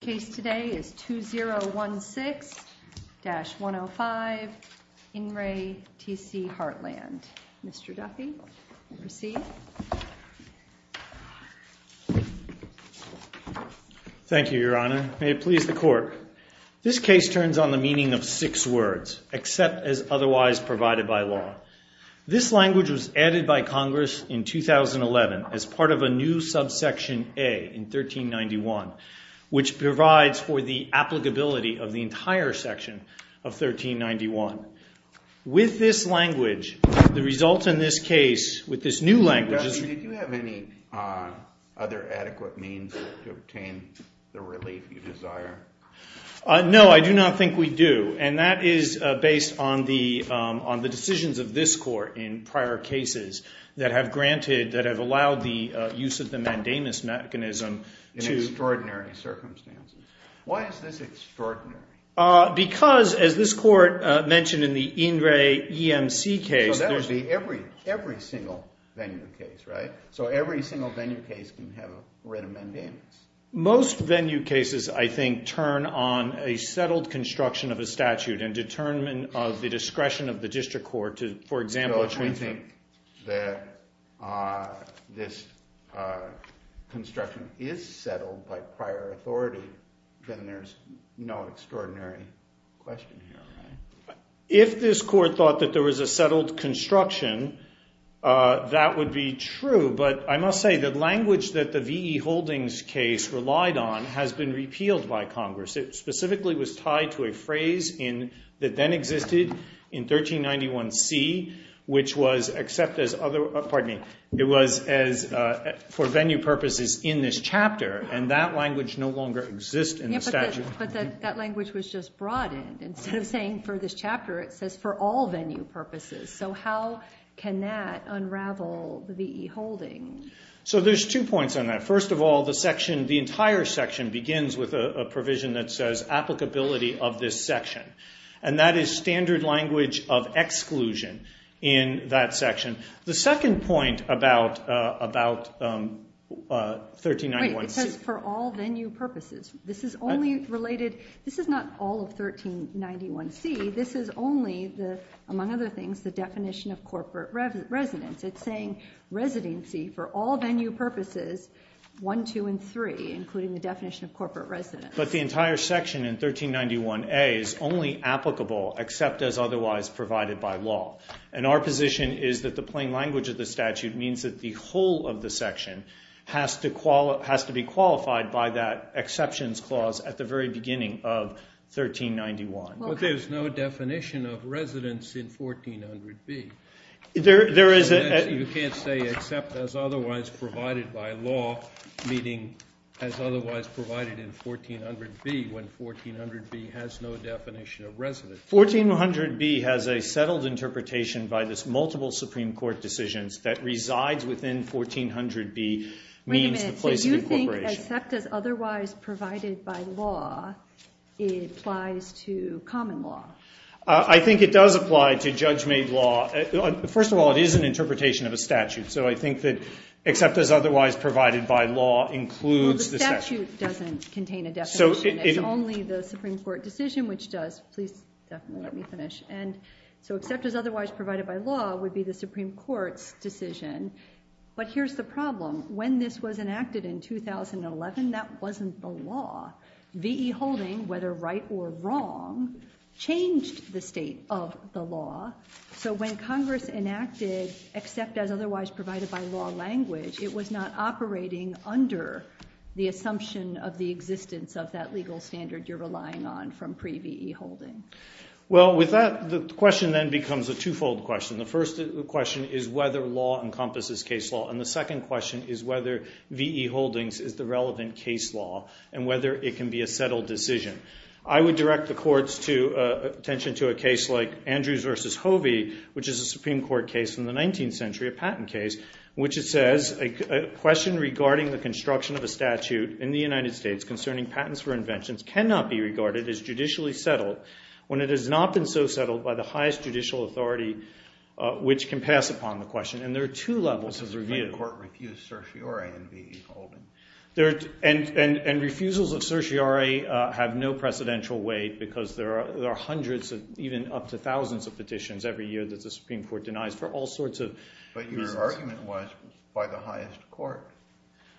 Case today is 2016-105 In Re TC Heartland. Mr. Duffy, you may proceed. Thank you, Your Honor. May it please the Court. This case turns on the meaning of six words, except as otherwise provided by law. This language was added by Congress in 2011 as part of a new subsection A in 1391, which provides for the applicability of the entire section of 1391. With this language, the results in this case, with this new language... Mr. Duffy, did you have any other adequate means to obtain the relief you desire? No, I do not think we do. And that is based on the decisions of this Court in prior cases that have granted, that have allowed the use of the mandamus mechanism... In extraordinary circumstances. Why is this extraordinary? Because, as this Court mentioned in the In Re EMC case... So that would be every single venue case, right? So every single venue case can have a written mandamus. Most venue cases, I think, turn on a settled construction of a statute and of the discretion of the district court to, for example... So if we think that this construction is settled by prior authority, then there's no extraordinary question here, right? If this Court thought that there was a settled construction, that would be true. But I must say the language that the V.E. Holdings case relied on has been repealed by Congress. It specifically was tied to a phrase that then existed in 1391C, which was for venue purposes in this chapter, and that language no longer exists in the statute. But that language was just broadened. Instead of saying for this chapter, it says for all venue purposes. So how can that unravel the V.E. Holdings? So there's two points on that. First of all, the entire section begins with a provision that says applicability of this section, and that is standard language of exclusion in that section. The second point about 1391C... Wait, it says for all venue purposes. This is only related... This is not all of 1391C. This is only, among other things, the definition of corporate residence. It's saying residency for all venue purposes, 1, 2, and 3, including the definition of corporate residence. But the entire section in 1391A is only applicable except as otherwise provided by law. And our position is that the plain language of the statute means that the whole of the section has to be qualified by that exceptions clause at the very beginning of 1391. But there's no definition of residence in 1400B. There is a... 1400B has a settled interpretation by this multiple Supreme Court decisions that resides within 1400B. Wait a minute. So do you think except as otherwise provided by law, it applies to common law? I think it does apply to judge-made law. First of all, it is an interpretation of a statute. So I think that except as otherwise provided by law includes the statute. The statute doesn't contain a definition. It's only the Supreme Court decision which does. Please definitely let me finish. And so except as otherwise provided by law would be the Supreme Court's decision. But here's the problem. When this was enacted in 2011, that wasn't the law. V.E. Holding, whether right or wrong, changed the state of the law. So when Congress enacted except as otherwise provided by law language, it was not operating under the assumption of the existence of that legal standard you're relying on from pre-V.E. Holding. Well, with that, the question then becomes a twofold question. The first question is whether law encompasses case law. And the second question is whether V.E. Holdings is the relevant case law and whether it can be a settled decision. I would direct the courts' attention to a case like the Supreme Court case from the 19th century, a patent case, in which it says a question regarding the construction of a statute in the United States concerning patents for inventions cannot be regarded as judicially settled when it has not been so settled by the highest judicial authority which can pass upon the question. And there are two levels of review. But the Supreme Court refused certiorari in V.E. Holding. And refusals of certiorari have no precedential weight because there are hundreds of even up to all sorts of reasons. But your argument was by the highest court.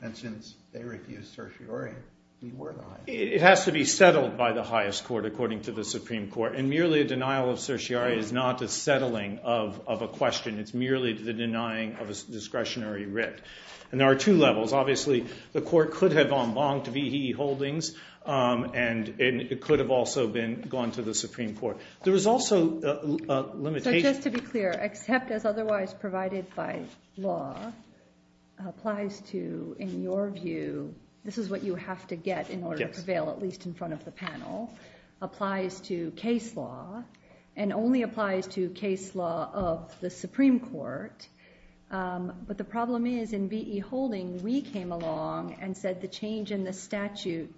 And since they refused certiorari, we were the highest. It has to be settled by the highest court, according to the Supreme Court. And merely a denial of certiorari is not a settling of a question. It's merely the denying of a discretionary writ. And there are two levels. Obviously, the court could have en banced V.E. Holdings and it could have also been gone to the Supreme Court. There was also a limitation. Just to be clear, except as otherwise provided by law, applies to, in your view, this is what you have to get in order to prevail, at least in front of the panel, applies to case law and only applies to case law of the Supreme Court. But the problem is in V.E. Holding, we came along and said the change in the statute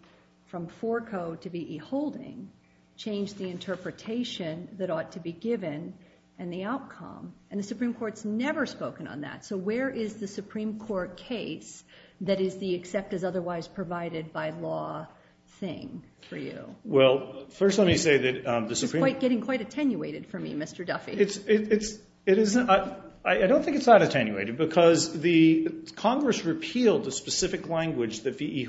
from to V.E. Holding changed the interpretation that ought to be given and the outcome. And the Supreme Court's never spoken on that. So where is the Supreme Court case that is the except as otherwise provided by law thing for you? Well, first, let me say that the Supreme Court— It's getting quite attenuated for me, Mr. Duffy. I don't think it's that attenuated because the Congress repealed the specific language that V.E. They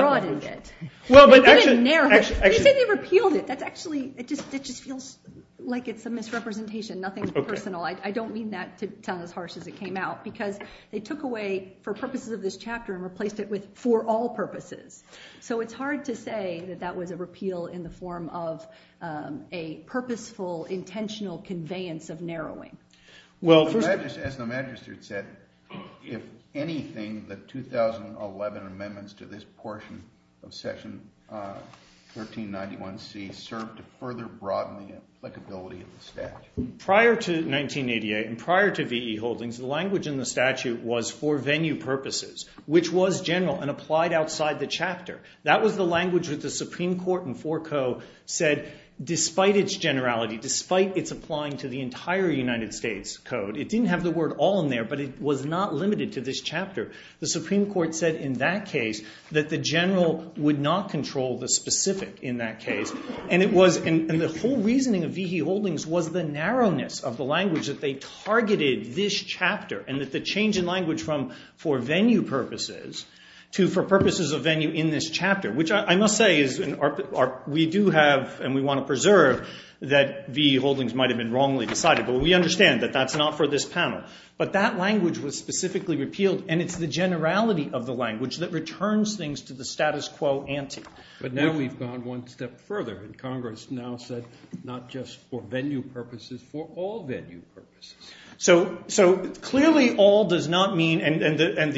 broadened it. They didn't narrow it. They say they repealed it. That's actually—it just feels like it's a misrepresentation, nothing personal. I don't mean that to sound as harsh as it came out because they took away for purposes of this chapter and replaced it with for all purposes. So it's hard to say that that was a repeal in the form of a purposeful, intentional conveyance of narrowing. Well, as the magistrate said, if anything, the 2011 amendments to this portion of section 1391C served to further broaden the applicability of the statute. Prior to 1988 and prior to V.E. Holdings, the language in the statute was for venue purposes, which was general and applied outside the chapter. That was the language that the Supreme Court and it didn't have the word all in there, but it was not limited to this chapter. The Supreme Court said in that case that the general would not control the specific in that case. And the whole reasoning of V.E. Holdings was the narrowness of the language that they targeted this chapter and that the change in language from for venue purposes to for purposes of venue in this chapter, which I must say is we do have and we want to preserve that V.E. That's not for this panel. But that language was specifically repealed and it's the generality of the language that returns things to the status quo ante. But now we've gone one step further and Congress now said not just for venue purposes, for all venue purposes. So clearly all does not mean and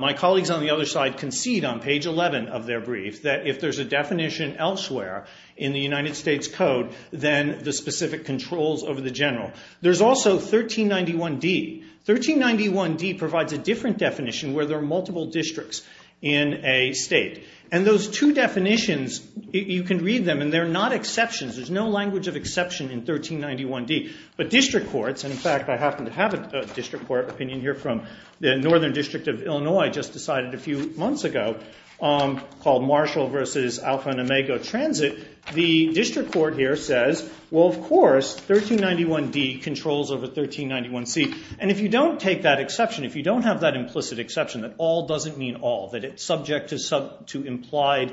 my colleagues on the other side concede on page 11 of their brief that if there's a definition elsewhere in the United States Code, then the specific controls over the general. There's also 1391D. 1391D provides a different definition where there are multiple districts in a state. And those two definitions, you can read them and they're not exceptions. There's no language of exception in 1391D. But district courts, and in fact, I happen to have a district court opinion here from the Northern District of Illinois just decided a few months ago called Marshall versus Alpha and Omega Transit. The district court here says, well, of course, 1391D controls over 1391C. And if you don't take that exception, if you don't have that implicit exception that all doesn't mean all, that it's subject to implied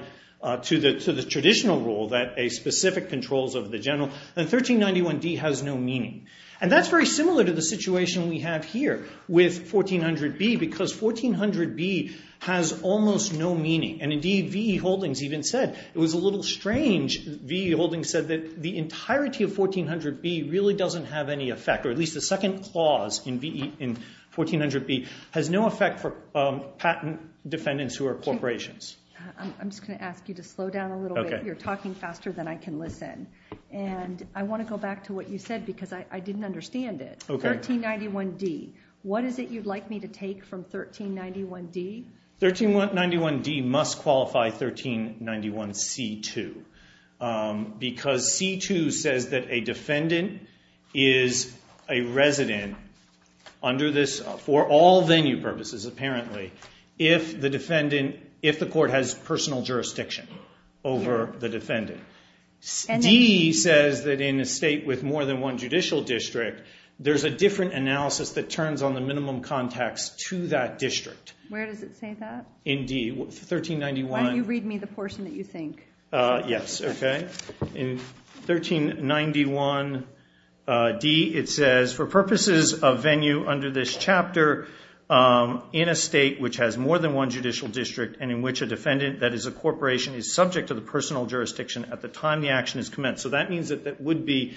to the traditional rule that a specific controls over the general, then 1391D has no meaning. And that's very similar to the situation we have here with 1400B because 1400B has almost no meaning. And indeed, V.E. Holdings even said, it was a little strange, V.E. Holdings said that the entirety of 1400B really doesn't have any effect, or at least the second clause in 1400B has no effect for patent defendants who are corporations. I'm just going to ask you to slow down a little bit. You're talking faster than I can listen. And I want to go back to what you said because I didn't understand it. 1391D, what is it you'd like me to take from 1391D? 1391D must qualify 1391C2 because C2 says that a defendant is a resident under this, for all venue purposes, apparently, if the court has personal jurisdiction over the defendant. D says that in a state with more than one judicial district, there's a different analysis that turns on the minimum context to that district. Where does it say that? In D, 1391. Why don't you read me the portion that you think? Yes, okay. In 1391D, it says, for purposes of venue under this chapter, in a state which has more than one judicial district and in which a defendant that is a corporation is subject to the personal jurisdiction at the time the action is commenced. So that means that that would be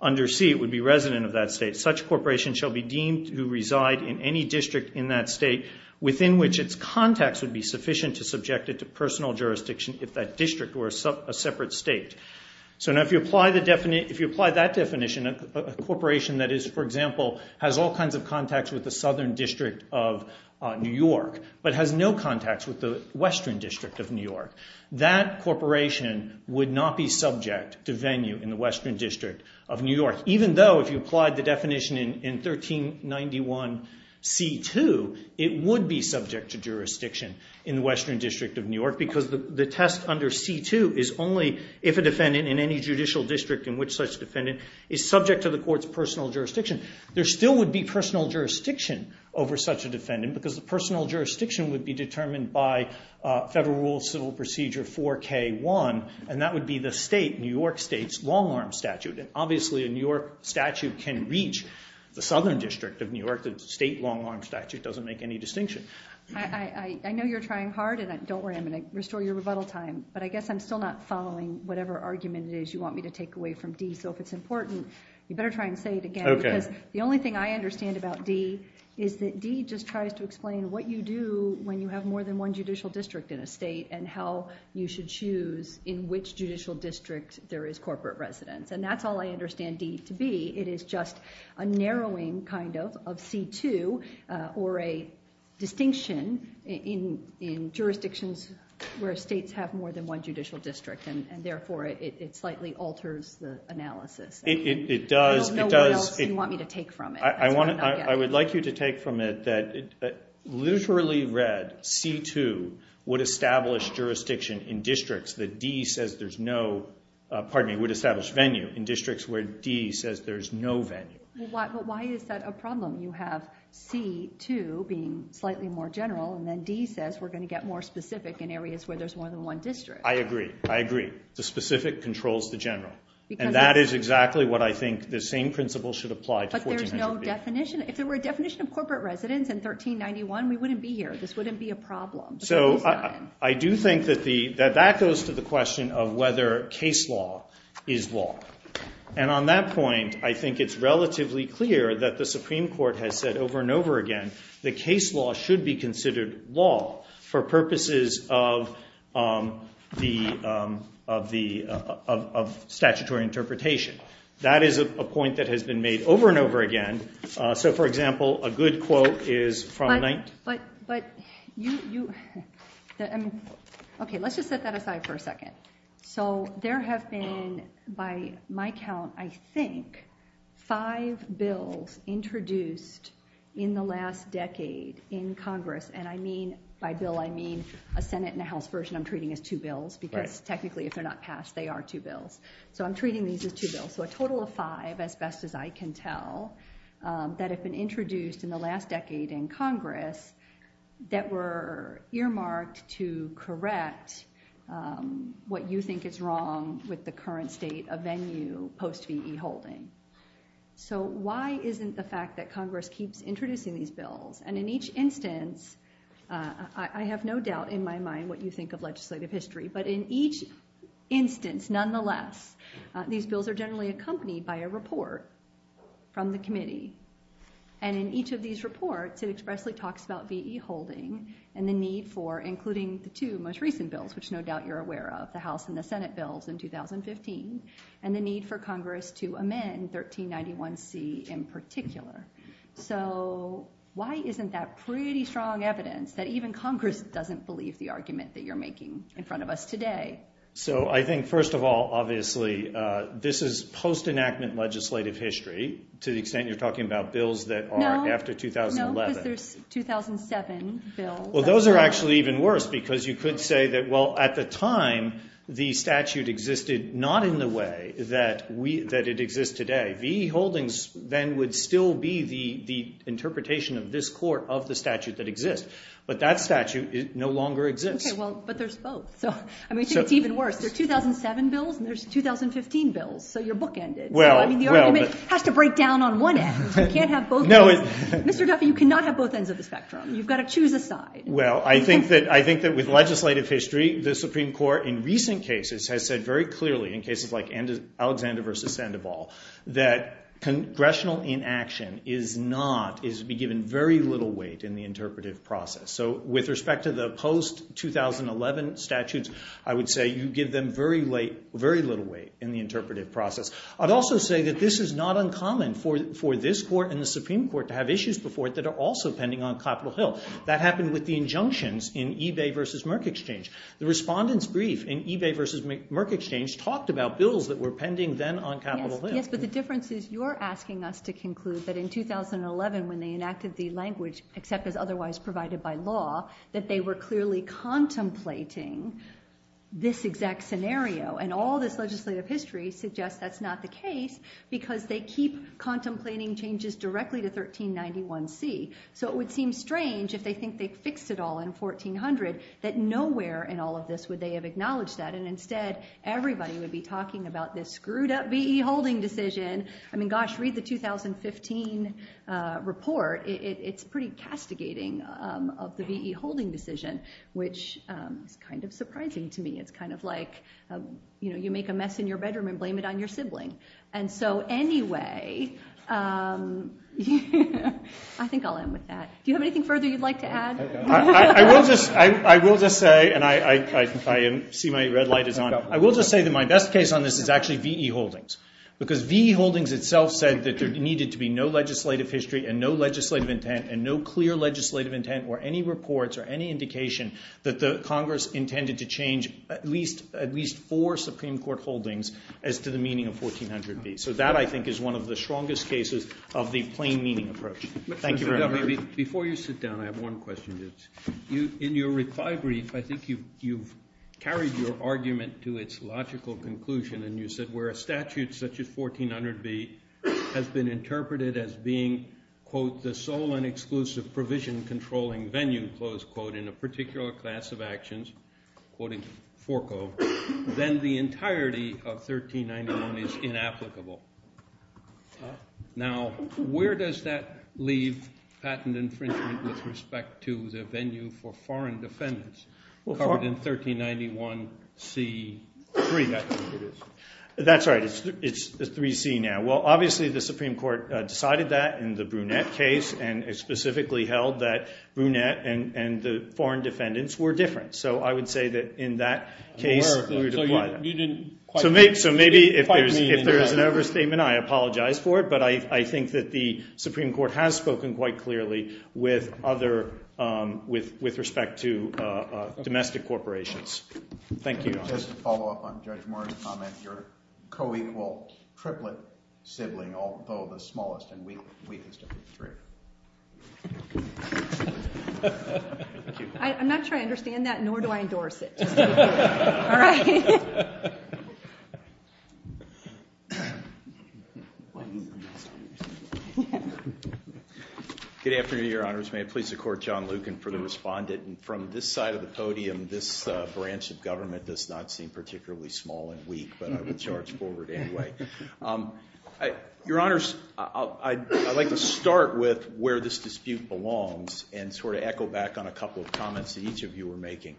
under C, it would be resident of that state. Such corporation shall be deemed to reside in any district in that state within which its context would be sufficient to subject it to personal jurisdiction if that district were a separate state. So now if you apply that definition, a corporation that is, for example, has all kinds of contacts with the Southern District of New York, but has no contacts with the Western District of New York, that corporation would not be subject to venue in the Western District of New York, even though if you applied the definition in 1391C2, it would be subject to jurisdiction in the Western District of New York, because the test under C2 is only if a defendant in any judicial district in which such defendant is subject to the court's personal jurisdiction. There still would be personal jurisdiction over such a defendant, because the personal jurisdiction would be determined by Federal Rule of Civil Procedure 4K1, and that would be the state, New York state's, long-arm statute, and obviously a New York statute can reach the Southern District of New York. The state long-arm statute doesn't make any distinction. I know you're trying hard, and don't worry, I'm going to restore your rebuttal time, but I guess I'm still not following whatever argument it is you want me to take away from D, so if it's important, you better try and say it again, because the only thing I understand about D is that D just tries to explain what you do when you have more than one judicial district in a state, and how you should choose in which judicial district there is corporate residence, and that's all I understand D to be. It is just a narrowing, kind of, of C2, or a distinction in jurisdictions where states have more than one judicial district, and therefore it slightly alters the analysis. It does. I don't know what else you want me to take from it. I would like you to take from it that literally read, C2 would establish jurisdiction in districts that D says there's no, pardon me, would establish venue in districts where D says there's no venue. But why is that a problem? You have C2 being slightly more general, and then D says we're going to get more specific in areas where there's more than one district. I agree. I agree. The specific controls the general, and that is exactly what I think the same principle should apply to 1400B. But there's no definition. If there were a we wouldn't be here. This wouldn't be a problem. So I do think that that goes to the question of whether case law is law. And on that point, I think it's relatively clear that the Supreme Court has said over and over again that case law should be considered law for purposes of statutory interpretation. That is a point that has been made over and over again. So for example, a good quote is But, but, but you, you, okay, let's just set that aside for a second. So there have been, by my count, I think, five bills introduced in the last decade in Congress. And I mean, by bill, I mean, a Senate and House version I'm treating as two bills, because technically, if they're not passed, they are two bills. So I'm treating these as two bills. So a total of as best as I can tell, that have been introduced in the last decade in Congress, that were earmarked to correct what you think is wrong with the current state of venue post VE holding. So why isn't the fact that Congress keeps introducing these bills, and in each instance, I have no doubt in my mind what you think of legislative history, but in each instance, nonetheless, these bills are generally accompanied by a report from the committee. And in each of these reports, it expressly talks about VE holding and the need for including the two most recent bills, which no doubt you're aware of the House and the Senate bills in 2015, and the need for Congress to amend 1391 C in particular. So why isn't that pretty strong evidence that even Congress doesn't believe the argument that you're making in front of us today? So I think, first of all, obviously, this is post enactment legislative history, to the extent you're talking about bills that are after 2011. No, because there's 2007 bills. Well, those are actually even worse, because you could say that, well, at the time, the statute existed, not in the way that it exists today. VE holdings then would still be the interpretation of this court of the statute that exists. But that statute no longer exists. But there's both. So I mean, it's even worse. There's 2007 bills, and there's 2015 bills. So you're bookended. I mean, the argument has to break down on one end. You can't have both. Mr. Duffy, you cannot have both ends of the spectrum. You've got to choose a side. Well, I think that with legislative history, the Supreme Court in recent cases has said very clearly in cases like Alexander v. Sandoval, that congressional inaction is to be given very little weight in the interpretive process. So with respect to the post-2011 statutes, I would say you give them very little weight in the interpretive process. I'd also say that this is not uncommon for this court and the Supreme Court to have issues before it that are also pending on Capitol Hill. That happened with the injunctions in Ebay v. Merck Exchange. The respondent's brief in Ebay v. Merck Exchange talked about bills that were pending then on Capitol Hill. Yes, but the difference is you're asking us to conclude that in 2011, when they enacted the language, except as otherwise provided by law, that they were clearly contemplating this exact scenario. And all this legislative history suggests that's not the case because they keep contemplating changes directly to 1391C. So it would seem strange if they think they fixed it all in 1400, that nowhere in all of this would they have acknowledged that. And instead, everybody would be talking about this screwed up V.E. holding decision. I mean, gosh, read the 2015 report. It's pretty castigating of the V.E. holding decision, which is kind of surprising to me. It's kind of like you make a mess in your bedroom and blame it on your sibling. And so anyway, I think I'll end with that. Do you have anything further you'd like to add? I will just say, and I see my red light is on. I will just say that my best case on this is V.E. holdings. Because V.E. holdings itself said that there needed to be no legislative history and no legislative intent and no clear legislative intent or any reports or any indication that the Congress intended to change at least four Supreme Court holdings as to the meaning of 1400B. So that I think is one of the strongest cases of the plain meaning approach. Thank you very much. Before you sit down, I have one question. In your reply brief, I think you've carried your conclusion and you said where a statute such as 1400B has been interpreted as being, quote, the sole and exclusive provision controlling venue, close quote, in a particular class of actions, quoting Forco, then the entirety of 1391 is inapplicable. Now, where does that leave patent infringement with respect to the venue for foreign defendants covered in 1391C3? That's right. It's 3C now. Well, obviously, the Supreme Court decided that in the Brunette case and specifically held that Brunette and the foreign defendants were different. So I would say that in that case, we would apply that. So maybe if there is an overstatement, I apologize for it. But I think that the Supreme Court has spoken quite clearly with respect to your co-equal triplet sibling, although the smallest and weakest of the three. I'm not sure I understand that, nor do I endorse it. Good afternoon, Your Honors. May it please the Court, John Lucan for the respondent. From this side of the podium, this branch of government does not seem particularly small and weak, but I would charge forward anyway. Your Honors, I'd like to start with where this dispute belongs and sort of echo back on a couple of comments that each of you were making.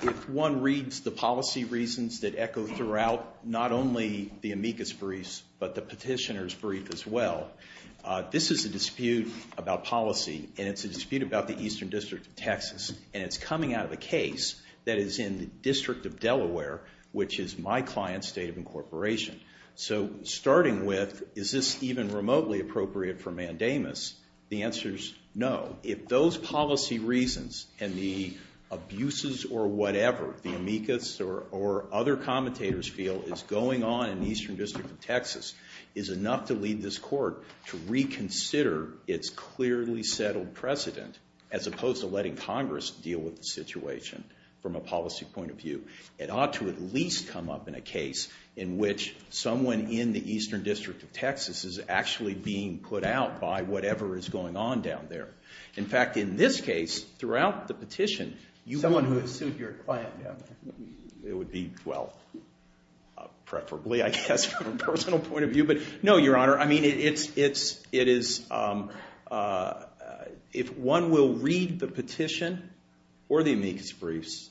If one reads the policy reasons that echo throughout not only the amicus briefs, but the petitioner's brief as well, this is a dispute about policy. And it's a dispute about the Eastern District of Texas. And it's coming out of a case that is in the District of Delaware, which is my client's state of incorporation. So starting with, is this even remotely appropriate for mandamus? The answer is no. If those policy reasons and the abuses or whatever the amicus or other commentators feel is going on in the Eastern District of Texas is enough to lead this Court to reconsider its clearly settled precedent, as opposed to letting Congress deal with the situation from a policy point of view, it ought to at least come up in a case in which someone in the Eastern District of Texas is actually being put out by whatever is going on down there. In fact, in this case, throughout the petition, you- Someone who has sued your client down there. It would be, well, preferably, I guess, from a personal point of view. But no, Your Honor. I mean, it's, it is, if one will read the petition or the amicus briefs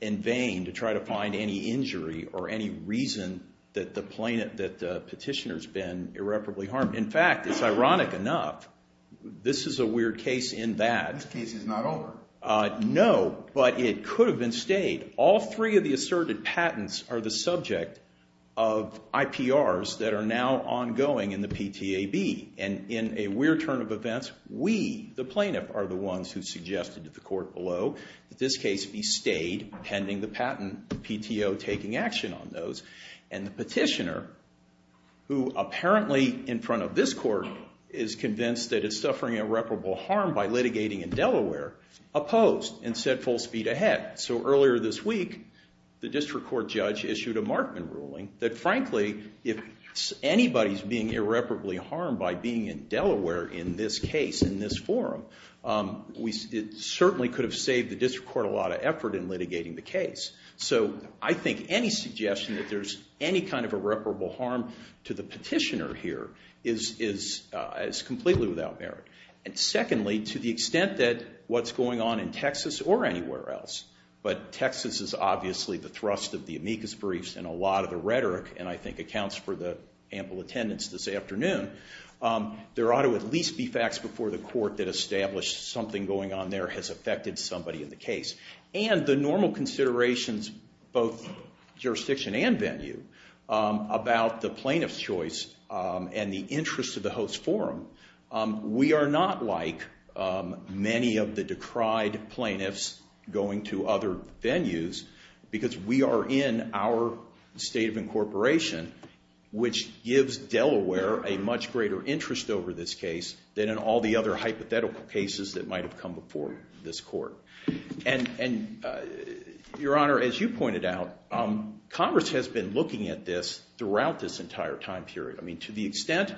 in vain to try to find any injury or any reason that the plaintiff, that the petitioner's been irreparably harmed. In fact, it's ironic enough, this is a weird case in that- This case is not over. No, but it could have been stayed. All three of the asserted patents are the subject of IPRs that are now ongoing in the PTAB. And in a weird turn of events, we, the plaintiff, are the ones who suggested to the Court below that this case be stayed pending the patent PTO taking action on those. And the petitioner, who apparently in front of this Court is convinced that it's suffering irreparable harm by litigating in Delaware, opposed and said full speed ahead. So earlier this week, the District Court judge issued a Markman ruling that, frankly, if anybody's being irreparably harmed by being in Delaware in this case, in this forum, it certainly could have saved the District Court a lot of effort in litigating the case. So I think any suggestion that there's any kind of irreparable harm to the petitioner is completely without merit. And secondly, to the extent that what's going on in Texas or anywhere else, but Texas is obviously the thrust of the amicus briefs and a lot of the rhetoric, and I think accounts for the ample attendance this afternoon, there ought to at least be facts before the Court that establish something going on there has affected somebody in the case. And the normal considerations, both jurisdiction and venue, about the plaintiff's choice and the interest of the host forum, we are not like many of the decried plaintiffs going to other venues because we are in our state of incorporation, which gives Delaware a much greater interest over this case than in all the other hypothetical cases that might have come before this Court. And Your Honor, as you pointed out, Congress has been looking at this throughout this entire time period. I mean, to the extent,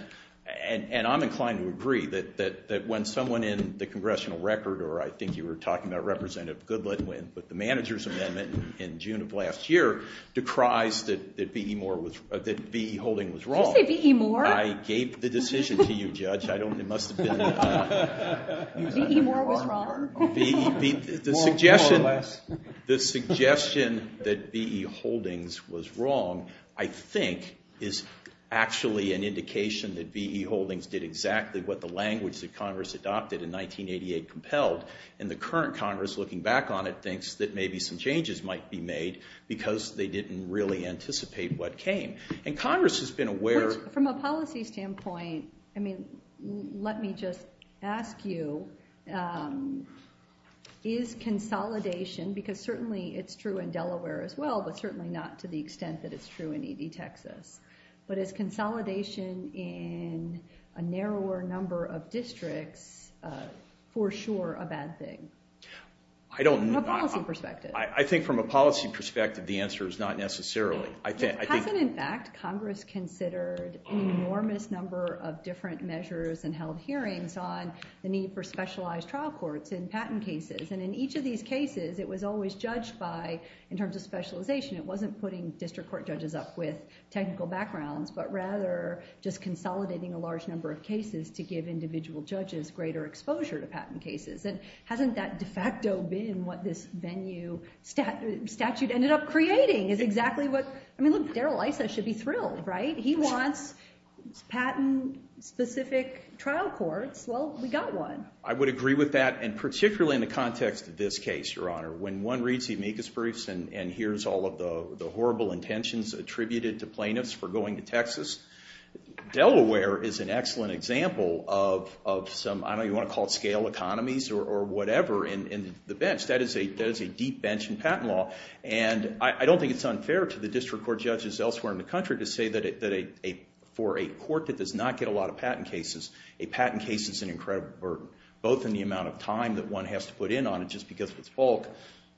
and I'm inclined to agree, that when someone in the congressional record, or I think you were talking about Representative Goodlatte with the manager's amendment in June of last year, decries that V.E. Holdings was wrong. Did you say V.E. Moore? I gave the decision to you, Judge. It must have been... V.E. Moore was wrong? The suggestion that V.E. Holdings was wrong, I think, is actually an indication that V.E. Holdings did exactly what the language that Congress adopted in 1988 compelled. And the current Congress, looking back on it, thinks that maybe some changes might be made because they didn't really ask you, is consolidation, because certainly it's true in Delaware as well, but certainly not to the extent that it's true in E.D. Texas, but is consolidation in a narrower number of districts for sure a bad thing? I don't... From a policy perspective. I think from a policy perspective, the answer is not necessarily. Hasn't, in fact, Congress considered an enormous number of different measures and held hearings on the need for specialized trial courts in patent cases. And in each of these cases, it was always judged by, in terms of specialization, it wasn't putting district court judges up with technical backgrounds, but rather just consolidating a large number of cases to give individual judges greater exposure to patent cases. And hasn't that de facto been what this venue statute ended up being? Well, we got one. I would agree with that, and particularly in the context of this case, Your Honor. When one reads the amicus briefs and hears all of the horrible intentions attributed to plaintiffs for going to Texas, Delaware is an excellent example of some, I don't know, you want to call it scale economies or whatever, in the bench. That is a deep bench in patent law. And I don't think it's unfair to the district court judges elsewhere in the country to say that for a court that does not get a lot of patent cases, a patent case is an incredible burden, both in the amount of time that one has to put in on it just because of its bulk.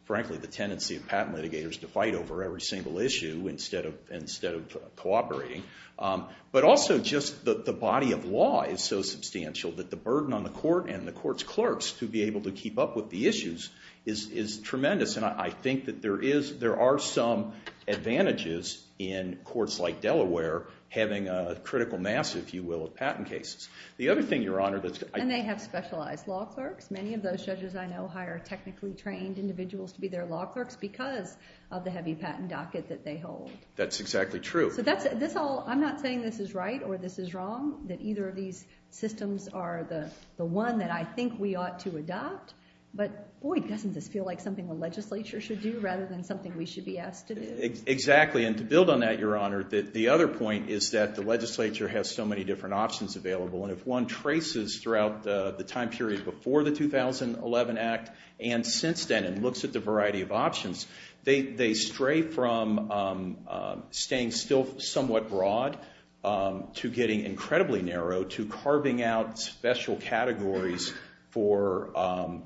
Frankly, the tendency of patent litigators to fight over every single issue instead of cooperating. But also just the body of law is so substantial that the burden on the court and the court's clerks to be able to keep up with the issues is tremendous. And I think that there are some advantages in courts like Delaware having a critical mass, if you will, of patent cases. The other thing, Your Honor, that's- And they have specialized law clerks. Many of those judges I know hire technically trained individuals to be their law clerks because of the heavy patent docket that they hold. That's exactly true. So that's, this all, I'm not saying this is right or this is wrong, that either of these systems are the one that I think we ought to adopt. But boy, doesn't this feel like something the legislature should do rather than something we should be asked to do? Exactly. And to build on that, Your Honor, the other point is that the legislature has so many different options available. And if one traces throughout the time period before the 2011 Act and since then and looks at the variety of options, they stray from staying still somewhat broad to getting incredibly narrow to carving out special categories for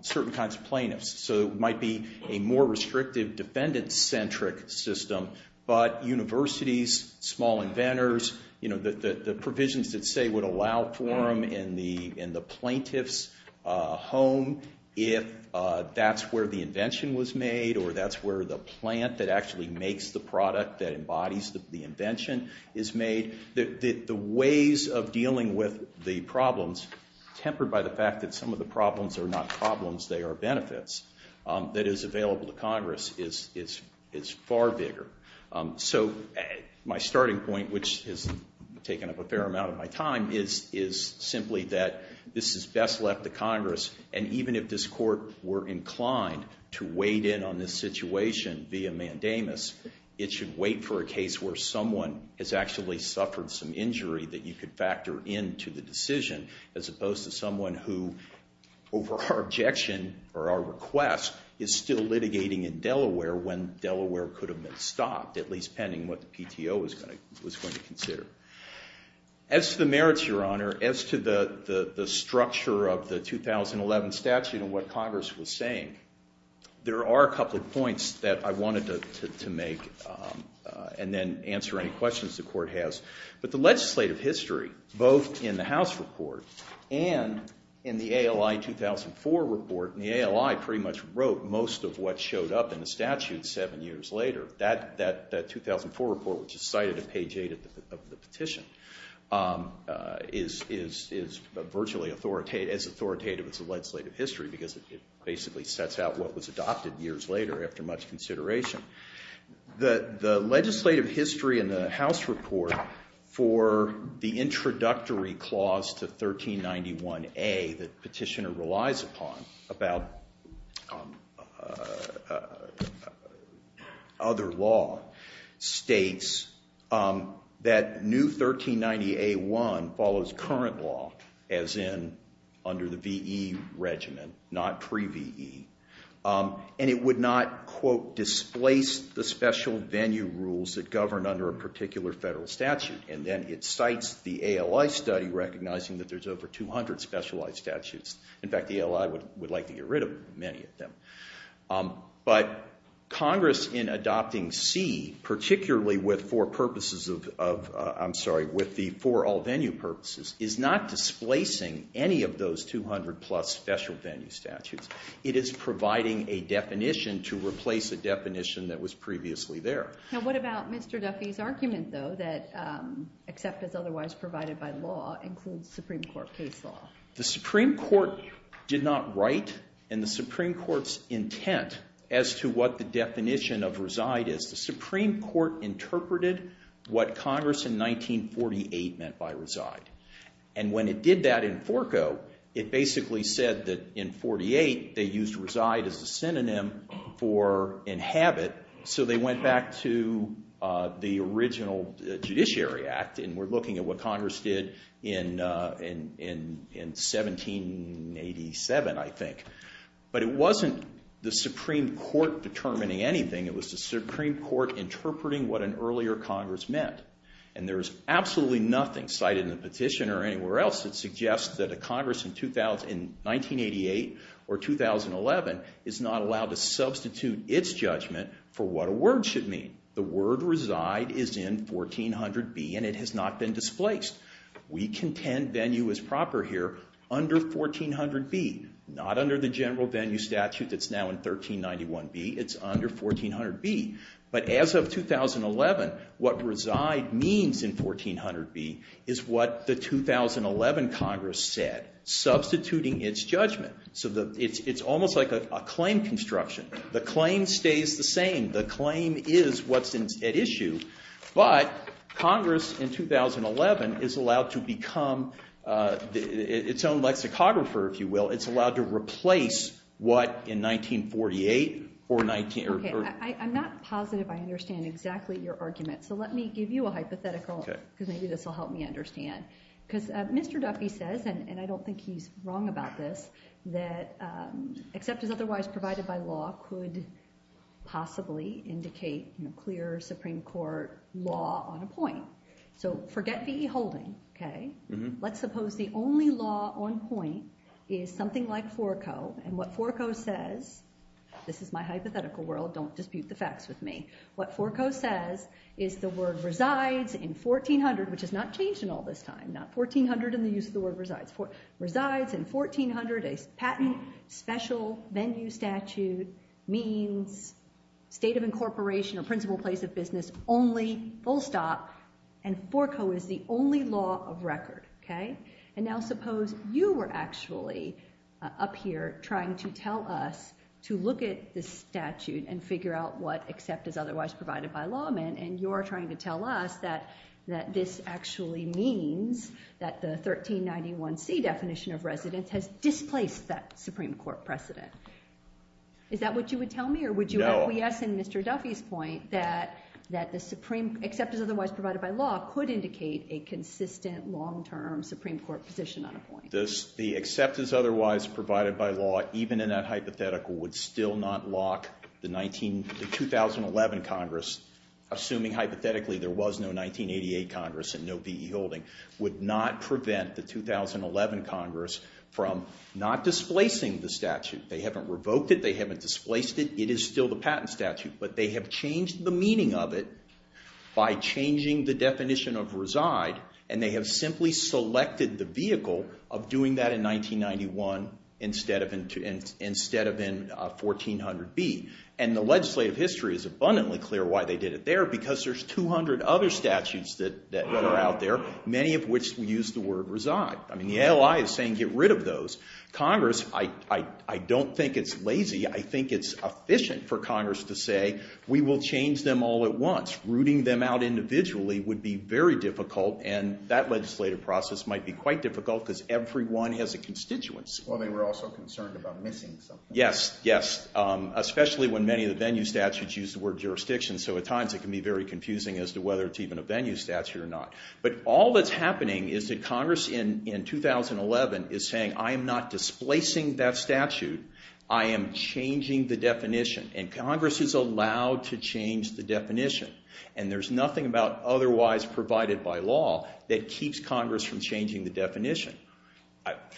certain kinds of plaintiffs. So it might be a more restrictive defendant-centric system. But universities, small inventors, you know, the provisions that say would allow for them in the plaintiff's home if that's where the invention was made or that's where the plant that actually makes the product that embodies the invention is made, the ways of dealing with the problems tempered by the fact that some of the problems are not problems, they are benefits, that is available to Congress is far bigger. So my starting point, which has taken up a fair amount of my time, is simply that this is best left to Congress. And even if this Court were inclined to weight in on this situation via mandamus, it should wait for a case where someone has actually suffered some injury that you could factor into the decision as opposed to someone who, over our objection or our request, is still litigating in Delaware when Delaware could have been stopped, at least pending what the PTO was going to consider. As to the merits, Your Honor, as to the structure of the 2011 statute and what Congress was saying, there are a couple of points that I wanted to make and then answer any questions the Court has. But the legislative history, both in the House report and in the ALI 2004 report, and the ALI pretty much wrote most of what showed up in the statute seven years later. That 2004 report, which is cited at page 8 of the petition, is virtually as authoritative as the legislative history because it basically sets out what was adopted years later after much consideration. The legislative history in the House report for the introductory clause to 1391A that Petitioner relies upon about other law states that new 1390A1 follows current law, as in under the VE regimen, not pre-VE, and it would not, quote, displace the special venue rules that govern under a particular federal statute. And then it cites the ALI study recognizing that there's over 200 specialized statutes. In fact, the ALI would like to get rid of many of them. But Congress, in adopting C, particularly with the four all-venue purposes, is not displacing any of those 200-plus special venue statutes. It is providing a definition to replace a definition that was previously there. Now, what about Mr. Duffy's argument, though, that except as otherwise provided by law includes Supreme Court case law? The Supreme Court did not write in the Supreme Court's intent as to what the definition of reside is. The Supreme It basically said that in 48, they used reside as a synonym for inhabit, so they went back to the original Judiciary Act, and we're looking at what Congress did in 1787, I think. But it wasn't the Supreme Court determining anything. It was the Supreme Court interpreting what an earlier Congress meant. And there's absolutely nothing cited in the petition or anywhere else that a Congress in 1988 or 2011 is not allowed to substitute its judgment for what a word should mean. The word reside is in 1400B, and it has not been displaced. We contend venue is proper here under 1400B, not under the general venue statute that's now in 1391B. It's under 1400B. But as of 2011, what reside means in 1400B is what the 2011 Congress said, substituting its judgment. So it's almost like a claim construction. The claim stays the same. The claim is what's at issue. But Congress in 2011 is allowed to become its own lexicographer, if you will. It's allowed to replace what in 1948 or 19... Okay, I'm not positive I understand exactly your argument, so let me give you a hypothetical because maybe this will help me understand. Because Mr. Duffy says, and I don't think he's wrong about this, that except as otherwise provided by law could possibly indicate clear Supreme Court law on a point. So forget V.E. Holden, okay? Let's suppose the only law on point is something like Forco, and what Forco says... This is my hypothetical world. Don't dispute the facts with me. What Forco says is the word resides in 1400, which has not changed in all this time. Not 1400 and the use of the word resides. Resides in 1400, a patent special venue statute means state of incorporation or principal place of business only, full stop. And Forco is the only law of record, okay? And now suppose you were actually up here trying to tell us to look at the statute and figure out what except is otherwise provided by lawmen, and you're trying to tell us that this actually means that the 1391C definition of residence has displaced that Supreme Court precedent. Is that what you would tell me, or would you acquiesce Mr. Duffy's point that except is otherwise provided by law could indicate a consistent, long-term Supreme Court position on a point? The except is otherwise provided by law, even in that hypothetical, would still not lock the 2011 Congress, assuming hypothetically there was no 1988 Congress and no V.E. Holden, would not prevent the 2011 Congress from not displacing the statute. But they have changed the meaning of it by changing the definition of reside, and they have simply selected the vehicle of doing that in 1991 instead of in 1400B. And the legislative history is abundantly clear why they did it there, because there's 200 other statutes that are out there, many of which use the word reside. I mean, the ALI is saying get rid of We will change them all at once. Rooting them out individually would be very difficult, and that legislative process might be quite difficult because everyone has a constituency. Well, they were also concerned about missing something. Yes, yes, especially when many of the venue statutes use the word jurisdiction, so at times it can be very confusing as to whether it's even a venue statute or not. But all that's happening is that Congress in 2011 is saying I am not displacing that statute, I am changing the definition, and Congress is allowed to change the definition, and there's nothing about otherwise provided by law that keeps Congress from changing the definition.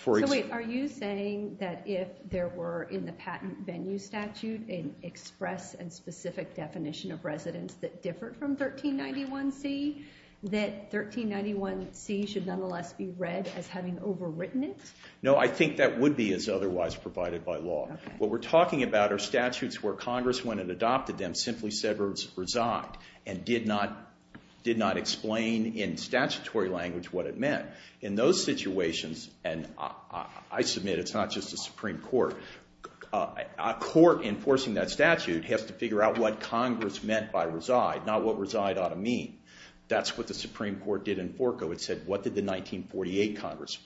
So wait, are you saying that if there were in the patent venue statute an express and specific definition of residence that differed from 1391C, that 1391C should nonetheless be What we're talking about are statutes where Congress, when it adopted them, simply said reside and did not explain in statutory language what it meant. In those situations, and I submit it's not just the Supreme Court, a court enforcing that statute has to figure out what Congress meant by reside, not what reside ought to mean. That's what the Supreme Court did in Forco. It said what did the 1948 Congress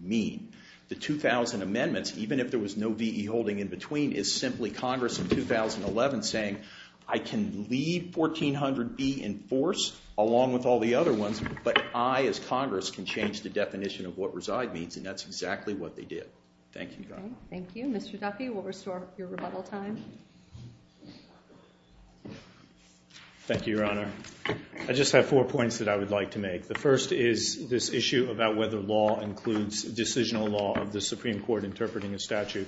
mean? The 2000 amendments, even if there was no VE holding in between, is simply Congress in 2011 saying I can leave 1400B in force along with all the other ones, but I as Congress can change the definition of what reside means, and that's exactly what they did. Thank you. Thank you. Mr. Duffy, we'll restore your rebuttal time. Thank you, Your Honor. I just have four points that I would like to make. The first is this issue about whether law includes decisional law of the Supreme Court interpreting a statute.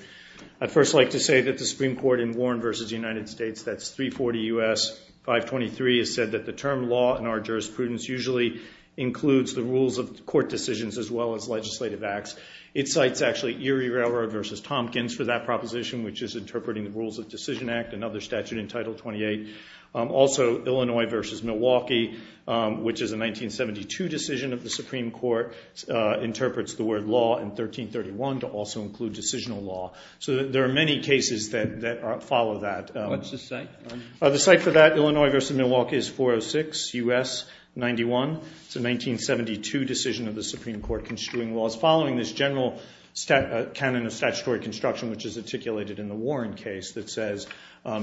I'd first like to say that the Supreme Court in Warren v. United States, that's 340 U.S. 523, has said that the term law in our jurisprudence usually includes the rules of court decisions as well as legislative acts. It cites actually Erie Railroad v. Tompkins for that proposition, which is interpreting the Decision Act, another statute in Title 28. Also, Illinois v. Milwaukee, which is a 1972 decision of the Supreme Court, interprets the word law in 1331 to also include decisional law. So there are many cases that follow that. What's the site? The site for that, Illinois v. Milwaukee, is 406 U.S. 91. It's a 1972 decision of the Supreme Court construing laws following this general canon of statutory construction, which is articulated in the Warren case that says,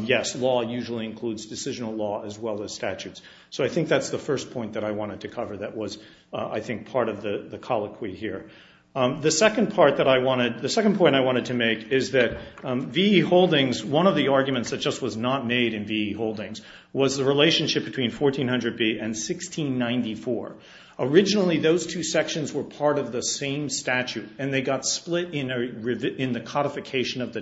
yes, law usually includes decisional law as well as statutes. So I think that's the first point that I wanted to cover that was, I think, part of the colloquy here. The second point I wanted to make is that V.E. Holdings, one of the arguments that just was not made in V.E. Holdings was the relationship between 1400b and 1694. Originally, those two sections were part of the same statute and they got split in the codification of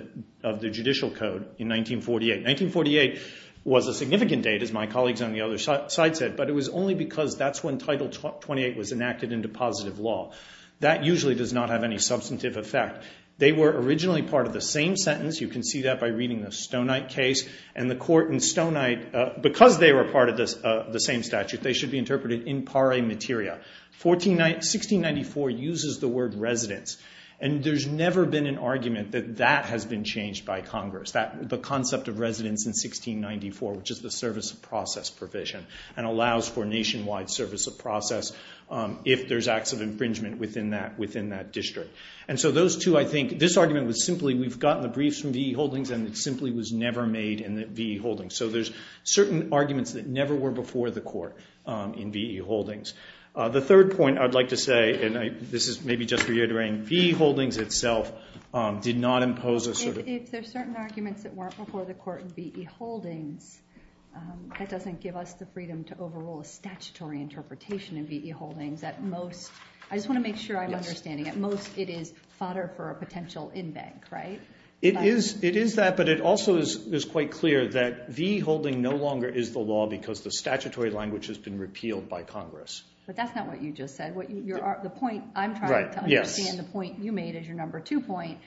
the judicial code in 1948. 1948 was a significant date, as my colleagues on the other side said, but it was only because that's when Title 28 was enacted into positive law. That usually does not have any substantive effect. They were originally part of the same sentence. You can see that by reading the Stonite case and the court in Stonite. Because they were part of the same statute, they should be interpreted in pare materia. 1694 uses the word residence, and there's never been an argument that that has been changed by Congress, the concept of residence in 1694, which is the service of process provision, and allows for nationwide service of process if there's acts of infringement within that district. And so those two, I think, this argument was simply, we've gotten the briefs from V.E. Holdings and it simply was never made in V.E. Holdings. So there's certain arguments that never were before the court in V.E. Holdings. The third point I'd like to say, and this is maybe just reiterating, V.E. Holdings itself did not impose a sort of... If there's certain arguments that weren't before the court in V.E. Holdings, that doesn't give us the freedom to overrule a statutory interpretation in V.E. Holdings. At most, I just want to make sure I'm understanding, at most it is fodder for a potential in-bank, right? It is that, but it also is quite clear that V.E. Holding no longer is the law because the statutory language has been repealed by Congress. But that's not what you just said. The point I'm trying to understand, the point you made as your number two point,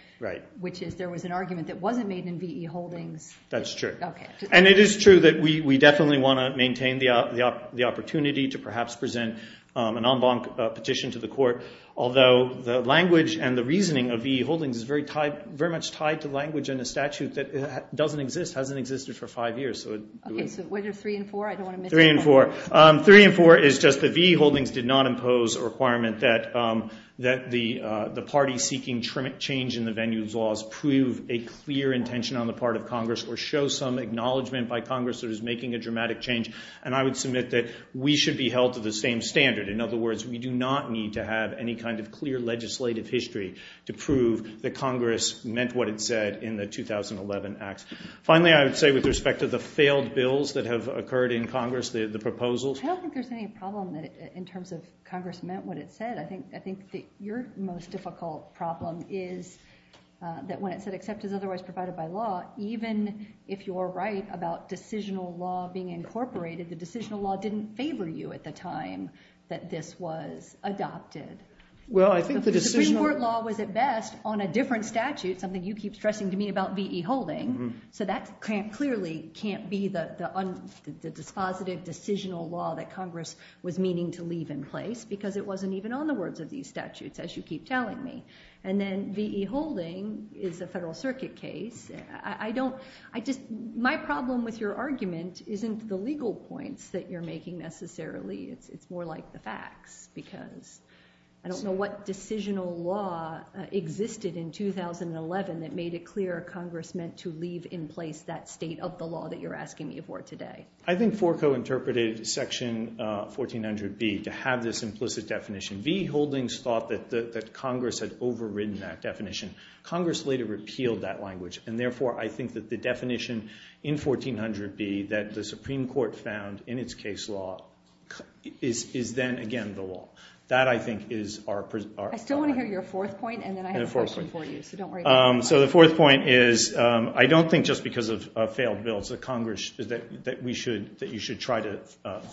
which is there was an argument that wasn't made in V.E. Holdings. That's true. Okay. And it is true that we definitely want to maintain the opportunity to perhaps present an en banc petition to the court, although the language and the reasoning of V.E. Holdings is very much tied to language and a statute that doesn't exist, hasn't existed for five years. Okay, so what are three and four? I don't want to miss... Three and four. Three and four is just the V.E. Holdings did not impose a requirement that the party seeking change in the venue's laws prove a clear intention on the part of Congress or show some acknowledgement by Congress that is making a dramatic change. And I would submit that we should be held to the same standard. In other words, we do not need to have any kind of clear legislative history to prove that Congress meant what it said in the 2011 Act. Finally, I would say with respect to the failed bills that have occurred in Congress, the proposals. I don't think there's any problem that in terms of Congress meant what it said. I think I think that your most difficult problem is that when it said, except as otherwise provided by law, even if you're right about decisional law being incorporated, the decisional law didn't favor you at the time that this was adopted. Well, I think the Supreme Court law was at best on a different statute, something you keep stressing to me about V.E. Holding. So that can't clearly can't be the the dispositive decisional law that Congress was meaning to leave in place because it wasn't even on the words of these statutes, as you keep telling me. And then V.E. Holding is a federal circuit case. I don't, I just, my problem with your argument isn't the legal points that you're making necessarily. It's more like the facts, because I don't know what decisional law existed in 2011 that made it clear Congress meant to leave in place that state of the law that you're asking me for today. I think Forco interpreted Section 1400B to have this implicit definition. V.E. Holdings thought that that Congress had overridden that definition. Congress later repealed that language, and is then again the law. That, I think, is our... I still want to hear your fourth point, and then I have a question for you, so don't worry. So the fourth point is, I don't think just because of failed bills that Congress, that we should, that you should try to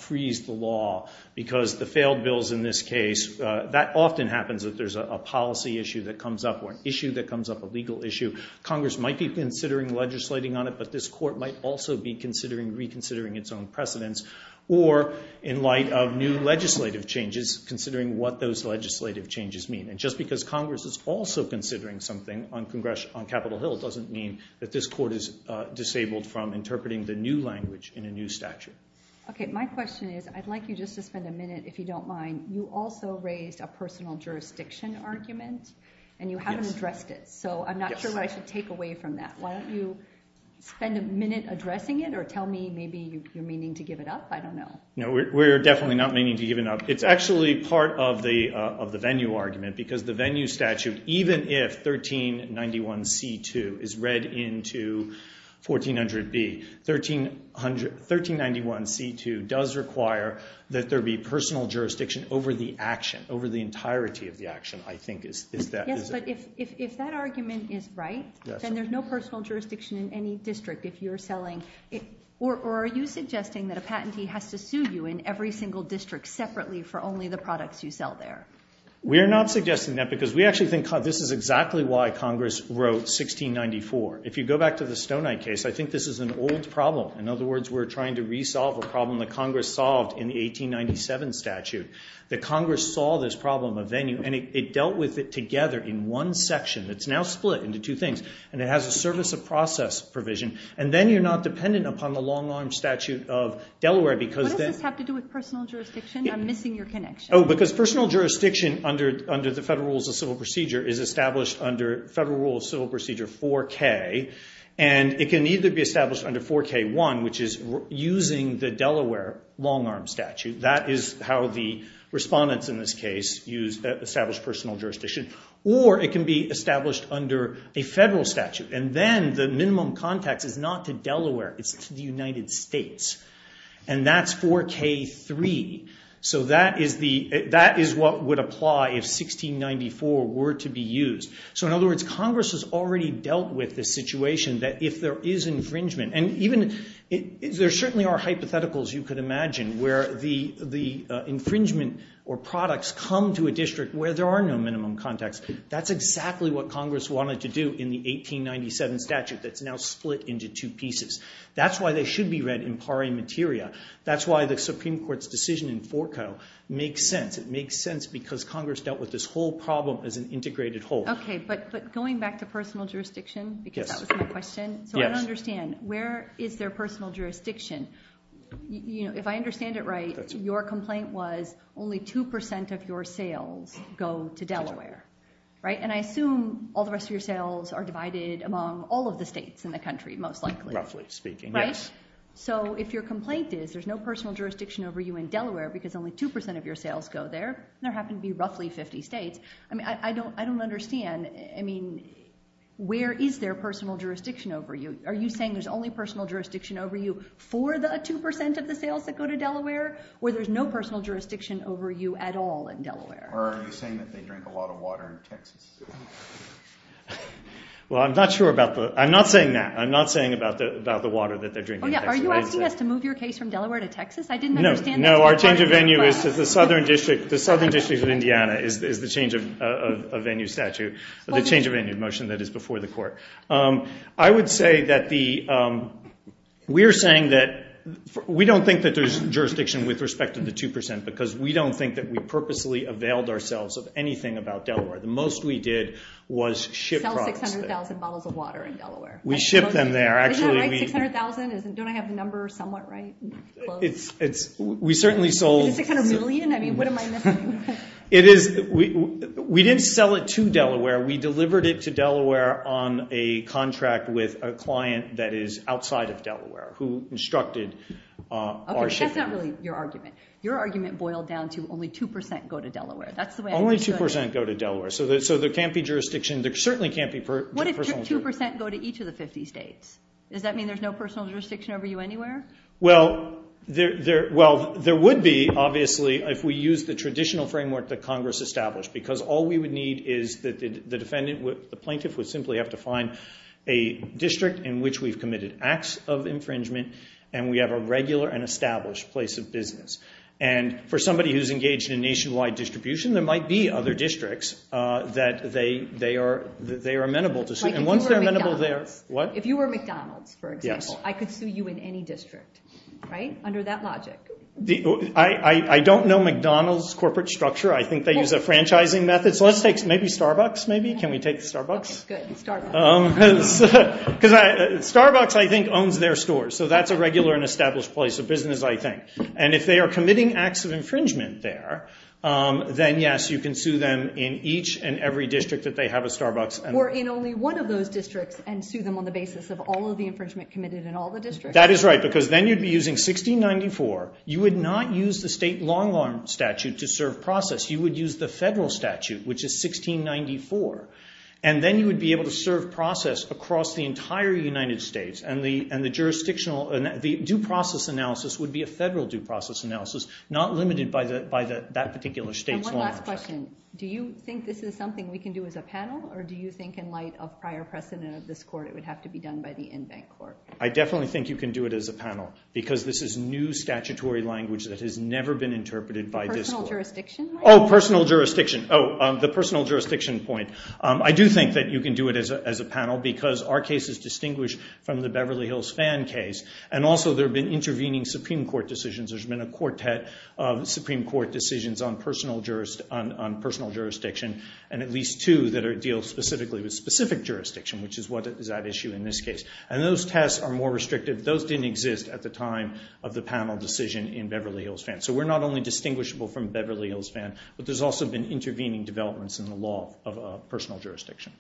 freeze the law, because the failed bills in this case, that often happens that there's a policy issue that comes up, or an issue that comes up, a legal issue. Congress might be considering legislating on it, but this court might also be considering reconsidering its own precedents, or in light of new legislative changes, considering what those legislative changes mean. And just because Congress is also considering something on Capitol Hill doesn't mean that this court is disabled from interpreting the new language in a new statute. Okay, my question is, I'd like you just to spend a minute, if you don't mind, you also raised a personal jurisdiction argument, and you haven't addressed it, so I'm not sure what I should take away from that. Why don't you spend a minute addressing it, or tell me maybe you're meaning to give it up? I don't know. No, we're definitely not meaning to give it up. It's actually part of the venue argument, because the venue statute, even if 1391c2 is read into 1400b, 1391c2 does require that there be personal jurisdiction over the action, I think. Yes, but if that argument is right, then there's no personal jurisdiction in any district if you're selling it, or are you suggesting that a patentee has to sue you in every single district separately for only the products you sell there? We are not suggesting that, because we actually think this is exactly why Congress wrote 1694. If you go back to the Stonite case, I think this is an old problem. In other words, we're trying to resolve a problem that Congress solved in the 1897 statute. The Congress saw this problem of venue, and it dealt with it together in one section. It's now split into two things, and it has a service of process provision, and then you're not dependent upon the long-arm statute of Delaware, because then- What does this have to do with personal jurisdiction? I'm missing your connection. Oh, because personal jurisdiction under the Federal Rules of Civil Procedure is established under Federal Rules of Civil Procedure 4k, and it can either be established under 4k1, which is using the Delaware long-arm statute. That is how the respondents in this case use established personal jurisdiction, or it can be established under a Federal statute, and then the minimum context is not to Delaware. It's to the United States, and that's 4k3. That is what would apply if 1694 were to be used. In other words, Congress has already dealt with this situation that if there is infringement, and there certainly are hypotheticals you could imagine where the infringement or products come to a district where there are no minimum context. That's exactly what Congress wanted to do in the 1897 statute that's now split into two pieces. That's why they should be read in pari materia. That's why the Supreme Court's decision in 4k0 makes sense. It makes sense because Congress dealt with this whole problem as an integrated whole. But going back to personal jurisdiction, because that was my question, I don't understand, where is their personal jurisdiction? If I understand it right, your complaint was only two percent of your sales go to Delaware, and I assume all the rest of your sales are divided among all of the states in the country, most likely. Roughly speaking, yes. So if your complaint is there's no personal jurisdiction over you in Delaware because only two percent of your sales go there. There happen to be roughly 50 states. I mean, I don't understand. I mean, where is their personal jurisdiction over you? Are you saying there's only personal jurisdiction over you for the two percent of the sales that go to Delaware, or there's no personal jurisdiction over you at all in Delaware? Or are you saying that they drink a lot of water in Texas? Well, I'm not sure about that. I'm not saying that. I'm not saying about the water that they drink in Texas. Are you asking us to move your case from Delaware to Texas? I didn't understand. No, our change of venue is to the Southern District of Indiana is the change of venue statute, the change of venue motion that is before the court. I would say that we're saying that we don't think that there's jurisdiction with respect to the two percent because we don't think that we purposely availed ourselves of anything about Delaware. The most we did was ship products there. Sell 600,000 bottles of water in Delaware. We ship them there. Isn't that right, 600,000? Don't I have the number somewhat right? It's... we certainly sold... Is it a million? I mean, what am I missing? It is... we didn't sell it to Delaware. We delivered it to Delaware on a contract with a client that is outside of Delaware who instructed our shipping. That's not really your argument. Your argument boiled down to only two percent go to Delaware. That's the way... Only two percent go to Delaware, so there can't be jurisdiction. There certainly can't be... What if two percent go to each of the 50 states? Does that mean there's no personal jurisdiction over you anywhere? Well, there... well, there would be, obviously, if we use the traditional framework that Congress established because all we would need is that the defendant... the plaintiff would simply have to find a district in which we've committed acts of infringement and we have a regular and established place of business. And for somebody who's engaged in nationwide distribution, there might be other districts that they are amenable to sue. And once they're amenable there... Like if you were McDonald's. What? I could sue you in any district, right? Under that logic. I don't know McDonald's corporate structure. I think they use a franchising method. So let's take... maybe Starbucks, maybe? Can we take Starbucks? Okay, good. Starbucks. Because Starbucks, I think, owns their stores. So that's a regular and established place of business, I think. And if they are committing acts of infringement there, then yes, you can sue them in each and every district that they have a Starbucks... Or in only one of those districts and sue them on the basis of all of the infringement committed in all the districts. That is right. Because then you'd be using 1694. You would not use the state long-arm statute to serve process. You would use the federal statute, which is 1694. And then you would be able to serve process across the entire United States. And the jurisdictional... The due process analysis would be a federal due process analysis, not limited by that particular state's long-term... And one last question. Do you think this is something we can do as a panel? Or do you think in light of prior precedent of this court, it would have to be done by the in-bank court? I definitely think you can do it as a panel, because this is new statutory language that has never been interpreted by this court. Personal jurisdiction? Oh, personal jurisdiction. Oh, the personal jurisdiction point. I do think that you can do it as a panel, because our case is distinguished from the Beverly Hills Fan case. And also, there have been intervening Supreme Court decisions. There's been a quartet of Supreme Court decisions on personal jurisdiction, and at least two that deal specifically with specific jurisdiction, which is what is at issue in this case. And those tests are more restrictive. Those didn't exist at the time of the panel decision in Beverly Hills Fan. So we're not only distinguishable from Beverly Hills Fan, but there's also been intervening developments in the law of personal jurisdiction.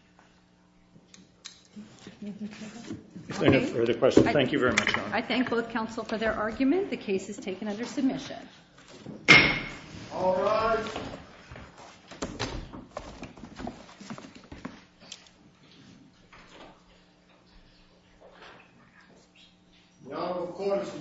If there are no further questions, thank you very much, Your Honor. I thank both counsel for their argument. The case is taken under submission. All rise. The honorable court is adjourned for today.